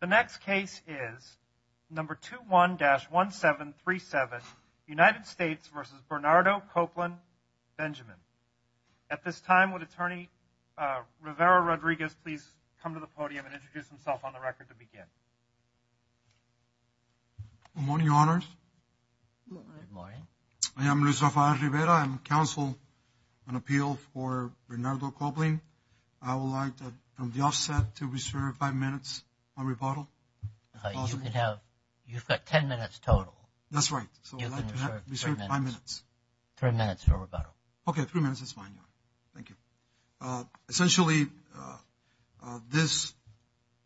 The next case is number 21-1737 United States v. Bernardo Coplin-Benjamin. At this time, would Attorney Rivera-Rodriguez please come to the podium and introduce himself on the record to begin? Good morning, Your Honors. Good morning. I am Luis Rafael Rivera. I am counsel on appeal for Bernardo Coplin. I would like, from the offset, to reserve five minutes on rebuttal. You've got ten minutes total. That's right. So I'd like to reserve five minutes. Three minutes for rebuttal. Okay, three minutes is fine. Thank you. Essentially, this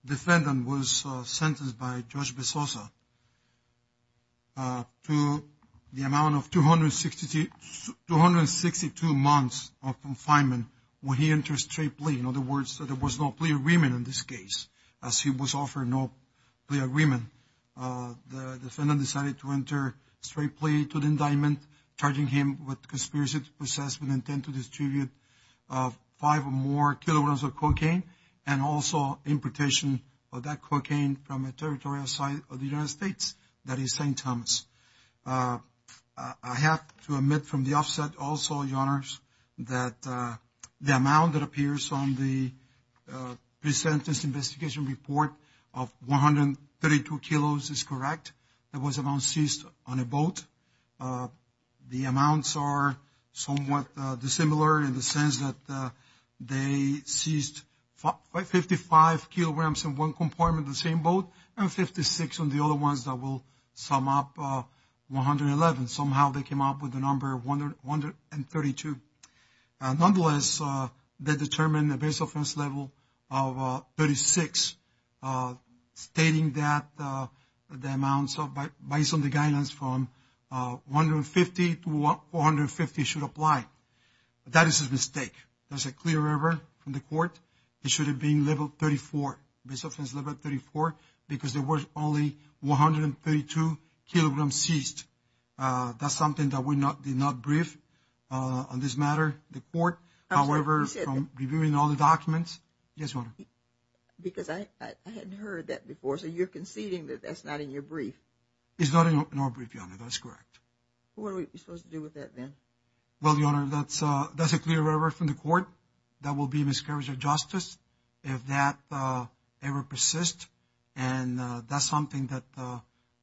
defendant was sentenced by Judge Besosa to the amount of 262 months of confinement when he entered straight plea. In other words, that there was no plea agreement in this case, as he was offered no plea agreement. The defendant decided to enter straight plea to the indictment, charging him with conspiracy to possess with intent to distribute five or more kilograms of cocaine and also importation of that cocaine from a territorial site of the United States, that is St. Thomas. I have to admit from the offset also, Your Honors, that the amount that appears on the pre-sentence investigation report of 132 kilos is correct. It was amount seized on a boat. The amounts are somewhat dissimilar in the sense that they seized 55 kilograms in one compartment of the same boat and 56 on the other ones that will sum up 111. Somehow they came up with the number 132. Nonetheless, they determined the base offense level of 36, stating that the amounts of, based on the guidance from 150 to 450 should apply. That is a mistake. That's a clear error from the court. It should have been level 34, base offense level 34, because there was only 132 kilograms seized. That's something that we did not brief on this matter, the court. However, from reviewing all the documents, yes, Your Honor. Because I hadn't heard that before. So you're conceding that that's not in your brief? It's not in our brief, Your Honor. That's correct. What are we supposed to do with that then? Well, Your Honor, that's a clear error from the court. That will be a miscarriage of justice if that ever persists. And that's something that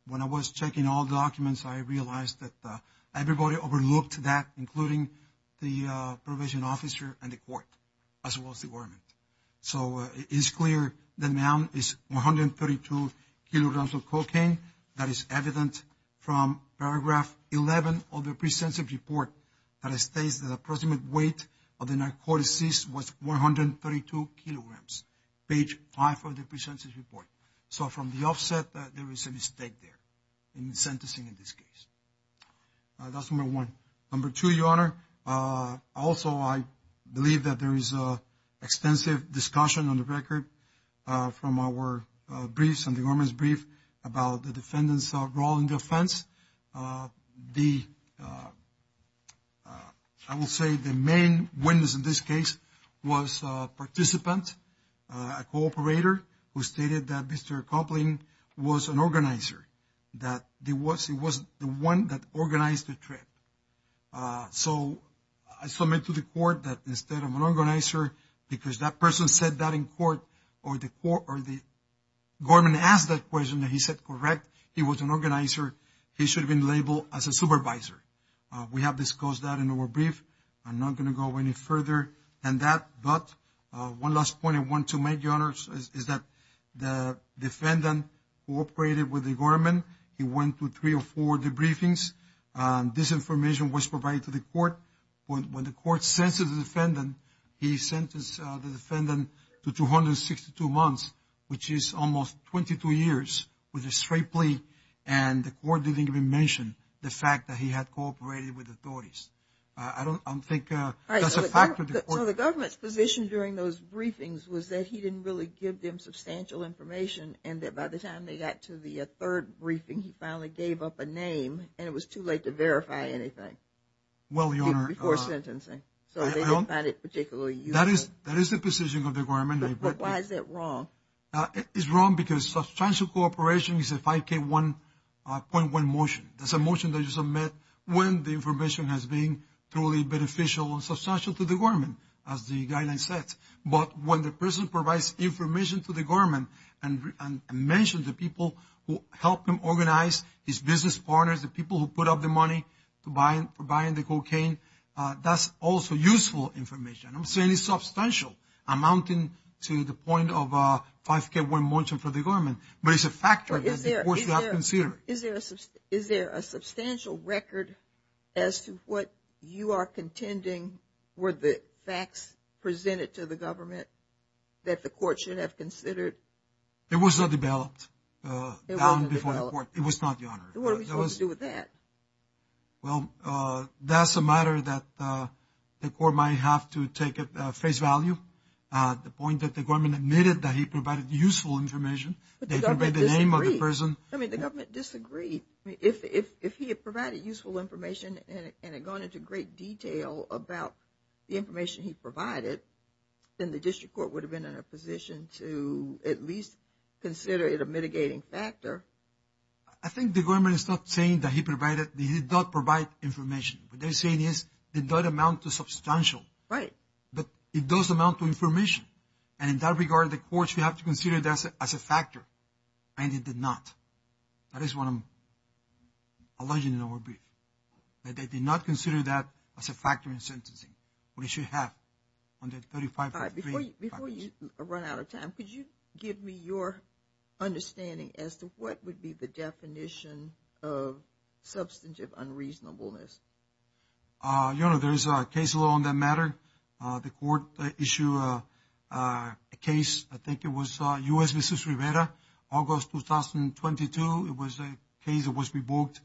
when I was checking all documents, I realized that everybody overlooked that, including the probation officer and the court, as well as the government. So it is clear the amount is 132 kilograms of cocaine. That is evident from paragraph 11 of the pre-sensitive report that states that the approximate weight of the narcotics seized was 132 kilograms, page five of the pre-sensitive report. So from the offset, there is a mistake there in sentencing in this case. That's number one. Number two, Your Honor, there is extensive discussion on the record from our briefs and the government's brief about the defendant's role in the offense. I will say the main witness in this case was a participant, a cooperator, who stated that Mr. Copling was an organizer, that he was the one that organized the trip. So I submit to the court that instead of an organizer, because that person said that in court, or the government asked that question that he said correct, he was an organizer, he should have been labeled as a supervisor. We have discussed that in our brief. I'm not going to go any further than that. But one last point I want to make, Your Honor, is that the defendant cooperated with the government. He went to three or four of the briefings. This information was provided to the court. When the court sentenced the defendant, he sentenced the defendant to 262 months, which is almost 22 years with a straight plea. And the court didn't even mention the fact that he had cooperated with the authorities. I don't think that's a factor. So the government's position during those briefings was that he didn't really give them substantial information, and that by the time they got to the third briefing, he finally gave up a name, and it was too late to verify anything. Well, Your Honor. Before sentencing. So they didn't find it particularly useful. That is the position of the government. But why is that wrong? It's wrong because substantial cooperation is a 5K1.1 motion. That's a motion that you submit when the information has been truly beneficial and substantial to the government, as the guideline says. But when the government mentions the people who helped him organize his business partners, the people who put up the money for buying the cocaine, that's also useful information. I'm saying it's substantial amounting to the point of a 5K1 motion for the government. But it's a factor that you have to consider. Is there a substantial record as to what you are contending were the facts presented to the court should have considered? It was not developed down before the court. It was not, Your Honor. What are we supposed to do with that? Well, that's a matter that the court might have to take at face value. The point that the government admitted that he provided useful information. But the government disagreed. I mean, the government disagreed. If he had provided useful information and had gone into great detail about the information he provided, then the district court would have been in a position to at least consider it a mitigating factor. I think the government is not saying that he provided, he did not provide information. What they're saying is it does amount to substantial. Right. But it does amount to information. And in that regard, the court should have to consider that as a factor. And it did not. That is what I'm alleging in our brief. That they did not consider that as a factor in sentencing. We should have on that 35.3. Before you run out of time, could you give me your understanding as to what would be the definition of substantive unreasonableness? Your Honor, there is a case law on that matter. The court issue a case. I think it was U.S. August 2022. It was a case that was revoked.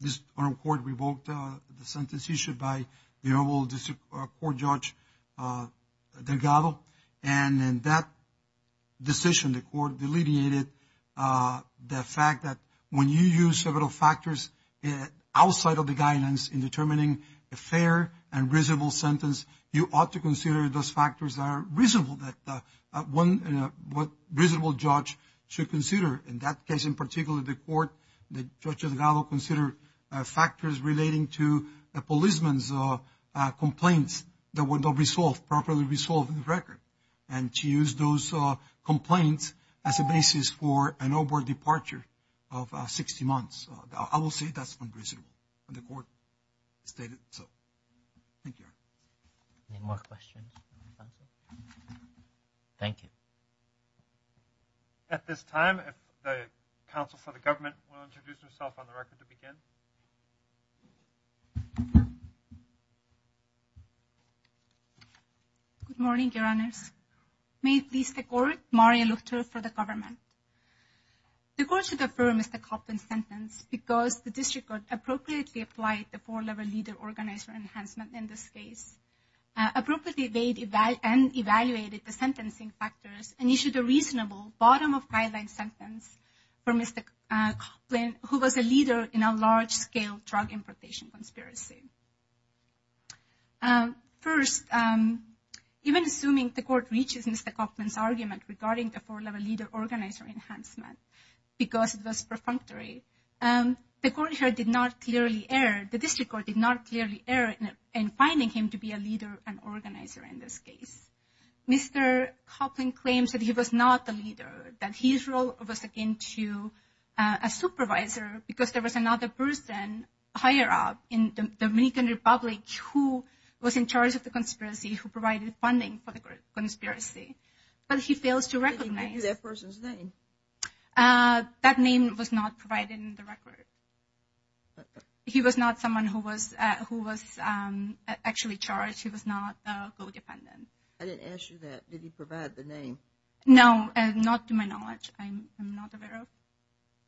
This court revoked the sentence issued by the Honorable District Court Judge Delgado. And in that decision, the court delineated the fact that when you use several factors outside of the guidance in determining a fair and reasonable sentence, you ought to consider those factors that are reasonable that one reasonable judge should consider. In that case, in particular, the court, the Judge Delgado considered factors relating to a policeman's complaints that were not resolved, properly resolved in the record. And she used those complaints as a basis for an overt departure of 60 months. I will say that's unreasonable. And the court stated so. Thank you, Your Honor. Any more questions? Thank you. At this time, the counsel for the government will introduce herself on the record to begin. Good morning, Your Honors. May it please the court, Maria Luctor for the government. The court should affirm Mr. Kauffman's sentence because the District Court appropriately applied the four-level leader organizer enhancement in this case, appropriately evaded and evaluated the sentencing factors and issued a reasonable bottom-of-guideline sentence for Mr. Kauffman, who was a leader in a large-scale drug importation conspiracy. First, even assuming the court reaches Mr. Kauffman's argument regarding the four-level leader organizer enhancement because it was perfunctory, the court here did not clearly err. The District Court did not clearly err in finding him to be a leader and organizer in this case. Mr. Kauffman claims that he was not a leader, that his role was akin to a supervisor because there was another person higher up in the Dominican Republic who was in charge of the conspiracy, but he fails to recognize that person's name. That name was not provided in the record. He was not someone who was actually charged. He was not a codependent. I didn't ask you that. Did he provide the name? No, not to my knowledge. I'm not aware of.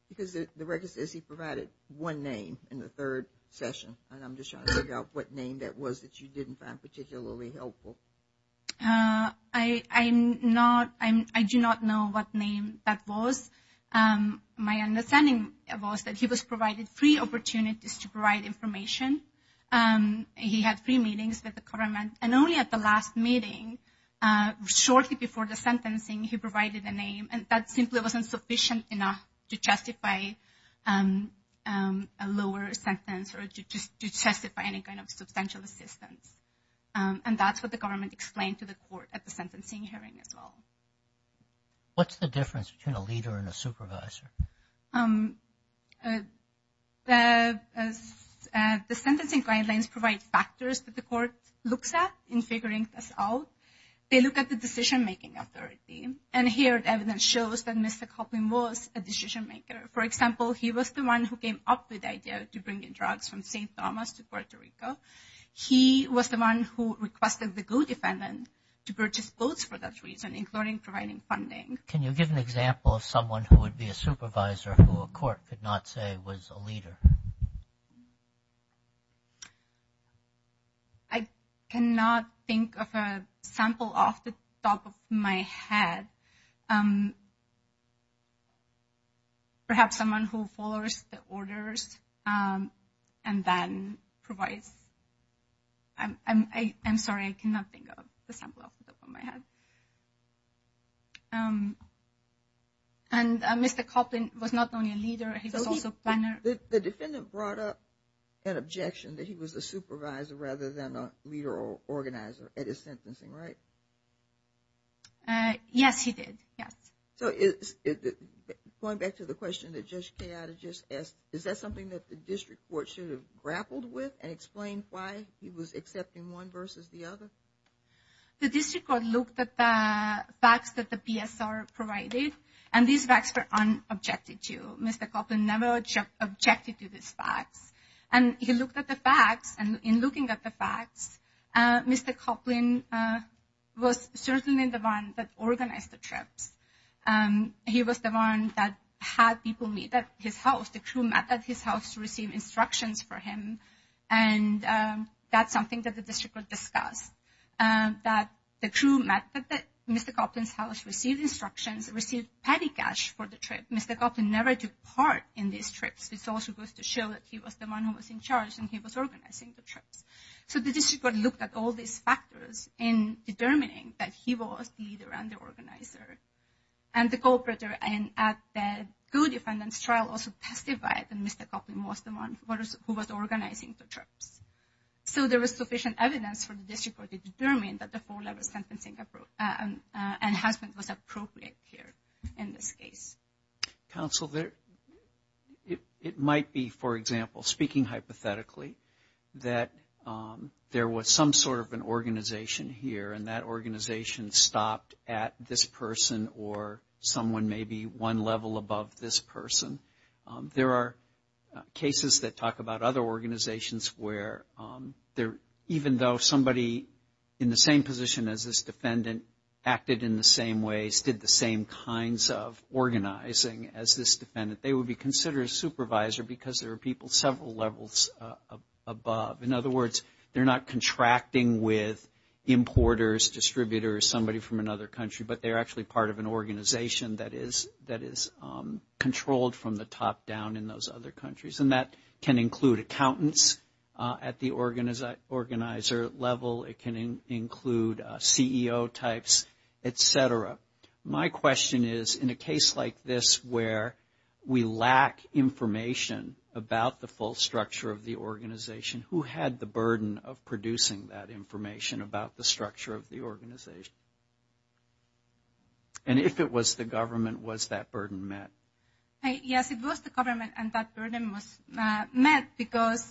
Because the record says he provided one name in the third session, and I'm just trying to figure out what name that was that you didn't find particularly helpful. I do not know what name that was. My understanding was that he was provided three opportunities to provide information. He had three meetings with the government, and only at the last meeting, shortly before the sentencing, he provided a name, and that simply wasn't sufficient enough to justify a lower sentence or to justify any kind of substantial assistance. And that's what the government explained to the court at the sentencing hearing as well. What's the difference between a leader and a supervisor? The sentencing guidelines provide factors that the court looks at in figuring this out. They look at the decision-making authority, and here the evidence shows that Mr. Kauffman was a decision-maker. For example, he was the one who came up with the idea to bring in drugs from Saint Thomas to he was the one who requested the codefendant to purchase clothes for that reason, including providing funding. Can you give an example of someone who would be a supervisor who a court could not say was a leader? I cannot think of a sample off the top of my head. Perhaps someone who follows the orders and then provides, I'm sorry, I cannot think of a sample off the top of my head. And Mr. Kauffman was not only a leader, he was also a planner. The defendant brought up an objection that he was a supervisor rather than a leader or a planner. Going back to the question that Judge Kayada just asked, is that something that the district court should have grappled with and explained why he was accepting one versus the other? The district court looked at the facts that the PSR provided, and these facts were unobjected to. Mr. Kauffman never objected to these facts. And he looked at the facts, in looking at the facts, Mr. Kauffman was certainly the one that organized the trips. He was the one that had people meet at his house. The crew met at his house to receive instructions for him. And that's something that the district court discussed, that the crew met at Mr. Kauffman's house, received instructions, received petty cash for the trip. Mr. Kauffman never took part in these trips. This also goes to show that he was the one who was in charge and he was organizing the trips. So the district court looked at all these factors in determining that he was the leader and the organizer. And the cooperator at the co-defendant's trial also testified that Mr. Kauffman was the one who was organizing the trips. So there was sufficient evidence for the district court to determine that the four-level sentencing and husband was appropriate here in this case. Counsel, it might be, for example, speaking hypothetically, that there was some sort of an organization here and that organization stopped at this person or someone maybe one level above this person. There are cases that talk about other organizations where even though somebody in the same position as this defendant acted in the same ways, did the same kinds of organizing as this defendant, they would be considered a supervisor because there are people several levels above. In other words, they're not contracting with importers, distributors, somebody from another country, but they're actually part of an organization that is controlled from the top down in those other countries. And that can include accountants at the organizer level, it can include CEO types, etc. My question is, in a case like this where we lack information about the full structure of the organization, who had the burden of producing that information about the structure of the organization? And if it was the government, was that burden met? Yes, it was the government, and that burden was met because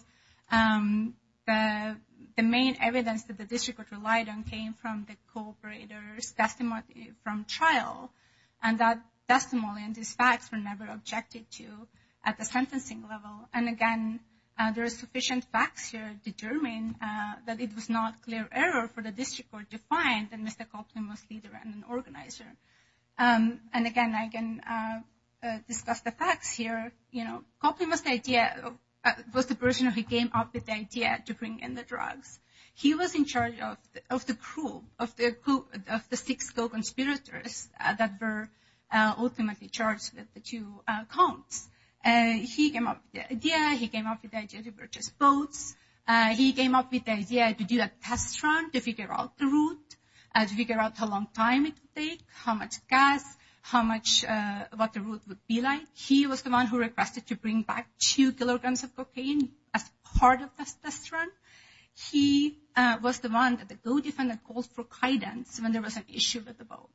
the main evidence that the district relied on came from the cooperator's testimony from trial. And that testimony and these facts were never objected to at the sentencing level. And again, there are sufficient facts here to determine that it was not clear error for the district court to find that Mr. Copeland was either an organizer. And again, I can discuss the facts here. You know, Copeland was the person who came up with the idea to bring in the drugs. He was in charge of the crew of the six co-conspirators that were ultimately charged with the two counts. He came up with the idea, he came up with the idea to purchase boats, he came up with the idea to do a test run to figure out the route, to figure out how long time it would take, how much gas, what the route would be like. He was the one who requested to bring back two kilograms of cocaine as part of this test run. He was the one that the co-defendant called for guidance when there was an issue with the boat.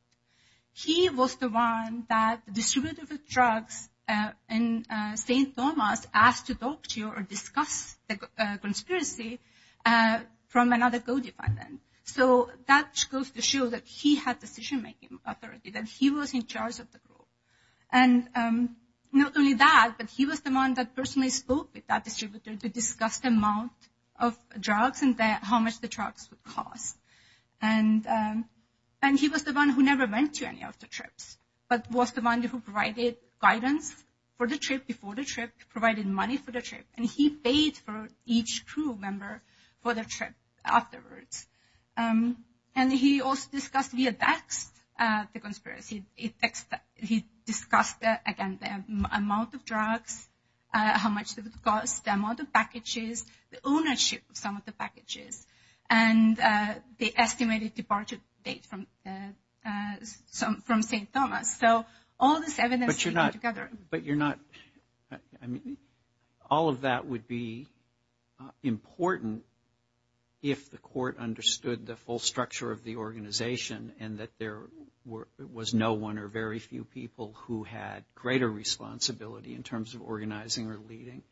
He was the one that the distributor for drugs in St. Thomas asked to talk to or discuss the conspiracy from another co-defendant. So that goes to show that he had decision-making authority, that he was in charge of the group. And not only that, but he was the one that personally spoke with that distributor to discuss the amount of drugs and how much the drugs would cost. And he was the one who never went to any of the trips, but was the one who provided guidance for the trip, before the trip, provided money for the trip, and he paid for each crew member for the trip afterwards. And he also discussed via text the conspiracy. He discussed, again, the amount of drugs, how much it would cost, the amount of packages, the ownership of some of the packages, and the estimated departure date from St. Thomas. So all this evidence... But you're not... I mean, all of that would be important if the court understood the full structure of the organization and that there was no one or very few people who had greater responsibility in terms of organizing or leading.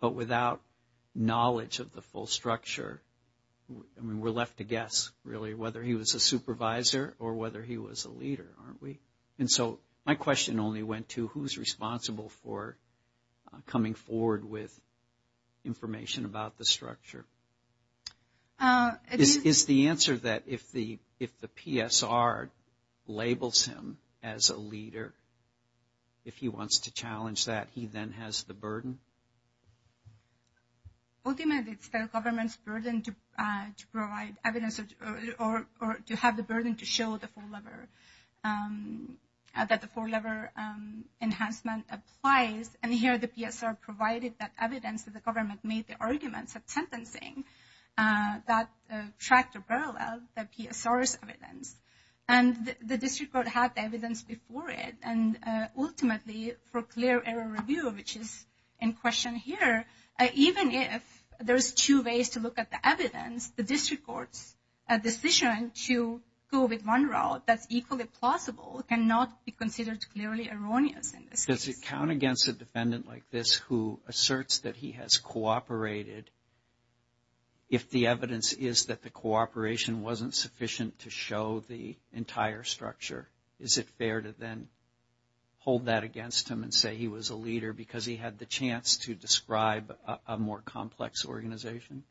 But without knowledge of the full structure, I mean, we're left to guess, really, whether he was a supervisor or whether he was a leader, aren't we? And so my question only went to who's responsible for coming forward with information about the structure? Is the answer that if the PSR labels him as a leader, if he wants to challenge that, he then has the burden? Ultimately, it's the government's burden to provide evidence or to have the burden to show that the four-lever enhancement applies. And here, the PSR provided that evidence that the government made the arguments of sentencing that tracked or paralleled the PSR's evidence. And the district court had the evidence before it. And ultimately, for clear error review, which is in question here, even if there's two ways to look at the evidence, the district court's decision to go with one route that's equally plausible cannot be considered clearly erroneous. Does it count against a defendant like this who asserts that he has cooperated if the evidence is that the cooperation wasn't sufficient to show the entire structure? Is it fair to then hold that against him and say he was a leader because he had the chance to describe a more complex organization?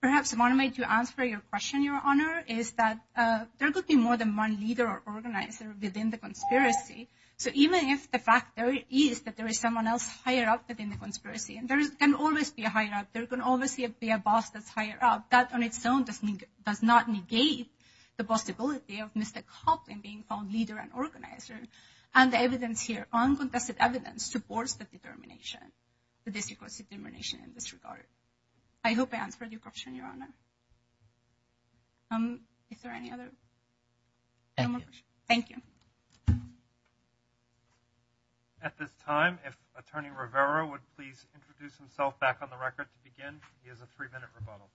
Perhaps one way to answer your question, Your Honor, is that there could be more than one leader or organizer within the conspiracy. So even if the fact is that there is someone else higher up within the conspiracy, and there can always be a higher up, there can always be a boss that's higher up, that on its own does not negate the possibility of Mr. Copeland being called an organizer. And the evidence here, uncontested evidence, supports the determination, the district court's determination in this regard. I hope I answered your question, Your Honor. Is there any other? Thank you. At this time, if Attorney Rivera would please introduce himself back on the record to begin. He has a three-minute rebuttal.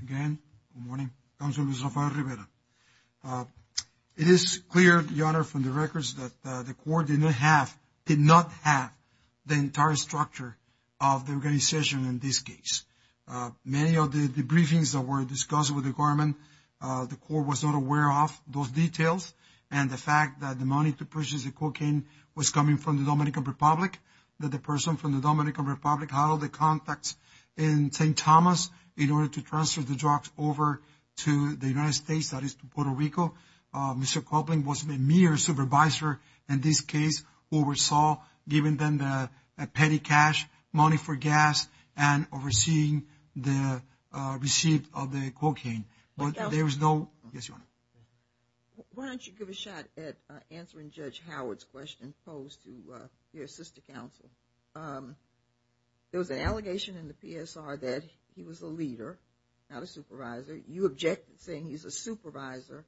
Again, good morning. Counselor Rafael Rivera. It is clear, Your Honor, from the records that the court did not have the entire structure of the organization in this case. Many of the briefings that were discussed with the government, the court was not aware of those details. And the fact that the money to purchase the cocaine was coming from the Dominican Republic, that the person from the Dominican Republic huddled the contacts in St. Thomas in order to transfer the drugs over to the United States, that is, to Puerto Rico. Mr. Copeland was a mere supervisor in this case, who oversaw giving them the petty cash, money for gas, and overseeing the receipt of the cocaine. Why don't you give a shot at answering Judge Howard's question posed to your sister counsel? There was an allegation in the PSR that he was a leader, not a supervisor. You objected, saying he's a supervisor.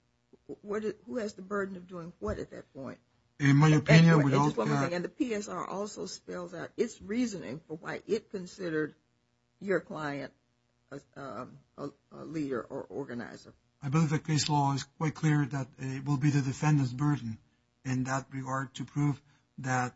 Who has the burden of doing what at that point? In my opinion, we all can. And the PSR also spells out its reasoning for why it considered your client a leader or organizer. I believe the case law is quite clear that it will be the defendant's burden in that regard to prove that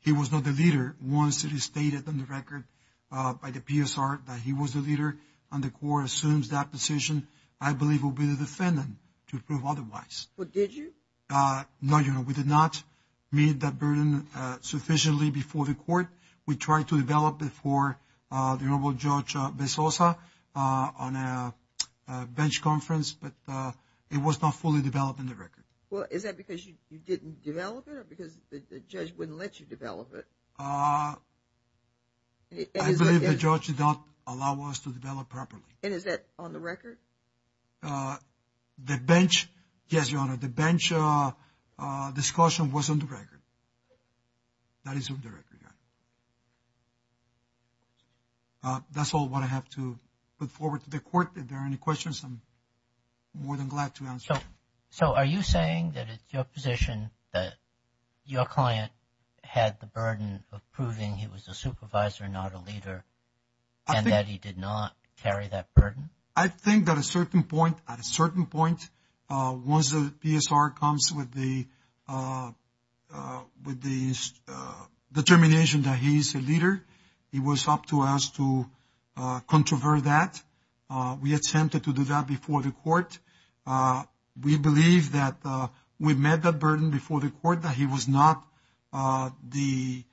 he was not the leader once it is stated on the record by the PSR that he was the leader. And the court assumes that position, I believe, will be the defendant to prove otherwise. But did you? No, Your Honor, we did not meet that burden sufficiently before the court. We tried to develop it for the Honorable Judge Bezosa on a bench conference, but it was not fully developed in the record. Well, is that because you didn't develop it or because the judge wouldn't let you develop it? I believe the judge did not allow us to develop properly. And is that on the record? The bench, yes, Your Honor, the bench discussion was on the record. That is on the record. That's all what I have to put forward to the court. If there are any questions, I'm more than glad to answer. So are you saying that it's your position that your client had the burden of proving he was a supervisor, not a leader, and that he did not carry that burden? I think that at a certain point, once the PSR comes with the determination that he's a leader, it was up to us to controvert that. We attempted to do that before the court. We believe that we met the burden before the court that he was not the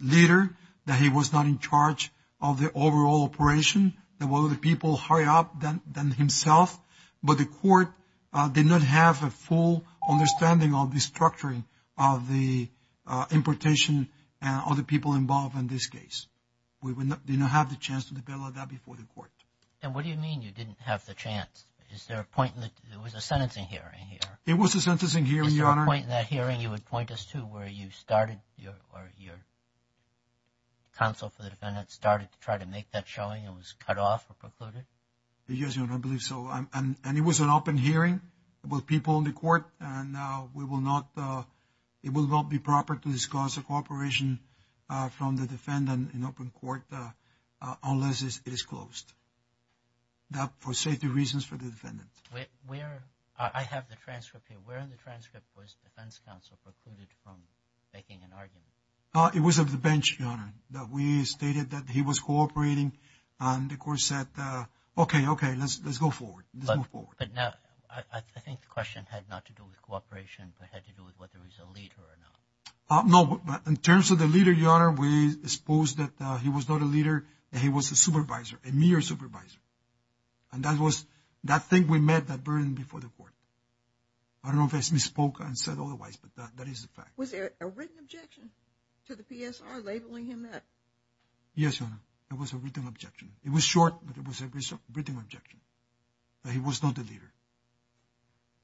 leader, that he was not in charge of the overall operation. There were other people higher up than himself, but the court did not have a full understanding of the structuring of the importation and other people involved in this case. We did not have the chance to develop that before the court. And what do you mean you didn't have the chance? There was a sentencing hearing here. It was a sentencing hearing, Your Honor. Is there a point in that hearing you would point us to where you started or your counsel for the defendant started to try to make that showing it was cut off or precluded? Yes, Your Honor, I believe so. And it was an open hearing with people in the court, and it will not be proper to discuss a cooperation from the defendant in open court unless it is closed. Now, for safety reasons for the defendant. I have the transcript here. Where in the transcript was defense counsel precluded from making an argument? It was of the bench, Your Honor, that we stated that he was cooperating, and the court said, okay, okay, let's go forward. Let's move forward. But now, I think the question had not to do with cooperation, but had to do with whether he's a leader or not. No, but in terms of the leader, Your Honor, we suppose that he was not a leader, that he was a supervisor, a mere supervisor. And that was, I think we met that burden before the court. I don't know if I misspoke and said otherwise, but that is the fact. Was there a written objection to the PSR labeling him that? Yes, Your Honor, there was a written objection. It was short, but it was a written objection that he was not a leader.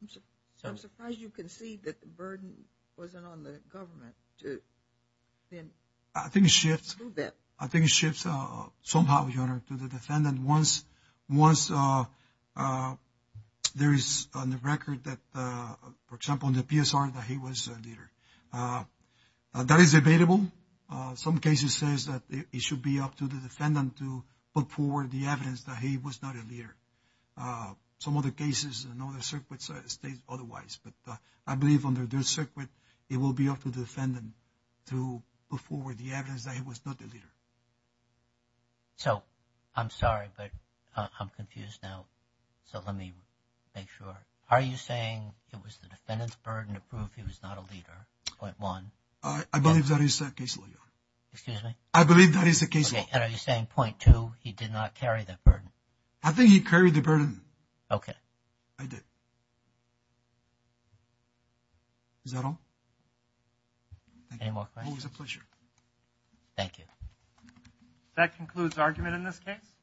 So, I'm surprised you concede that the burden wasn't on the government to then... I think it shifts. A little bit. I think it shifts somehow, Your Honor, to the defendant once there is on the record that, for example, in the PSR that he was a leader. That is debatable. Some cases says that it should be up to the defendant to put forward the evidence that he was not a leader. Some other cases and other circuits state otherwise, but I believe under this circuit, it will be up to the defendant to put forward the evidence that he was not a leader. So, I'm sorry, but I'm confused now. So, let me make sure. Are you saying it was the defendant's burden to prove he was not a leader, point one? I believe that is the case, Your Honor. Excuse me? I believe that is the case. And are you saying point two, he did not carry that burden? I think he carried the burden. Okay. I did. Is that all? Any more questions? Always a pleasure. Thank you. That concludes argument in this case.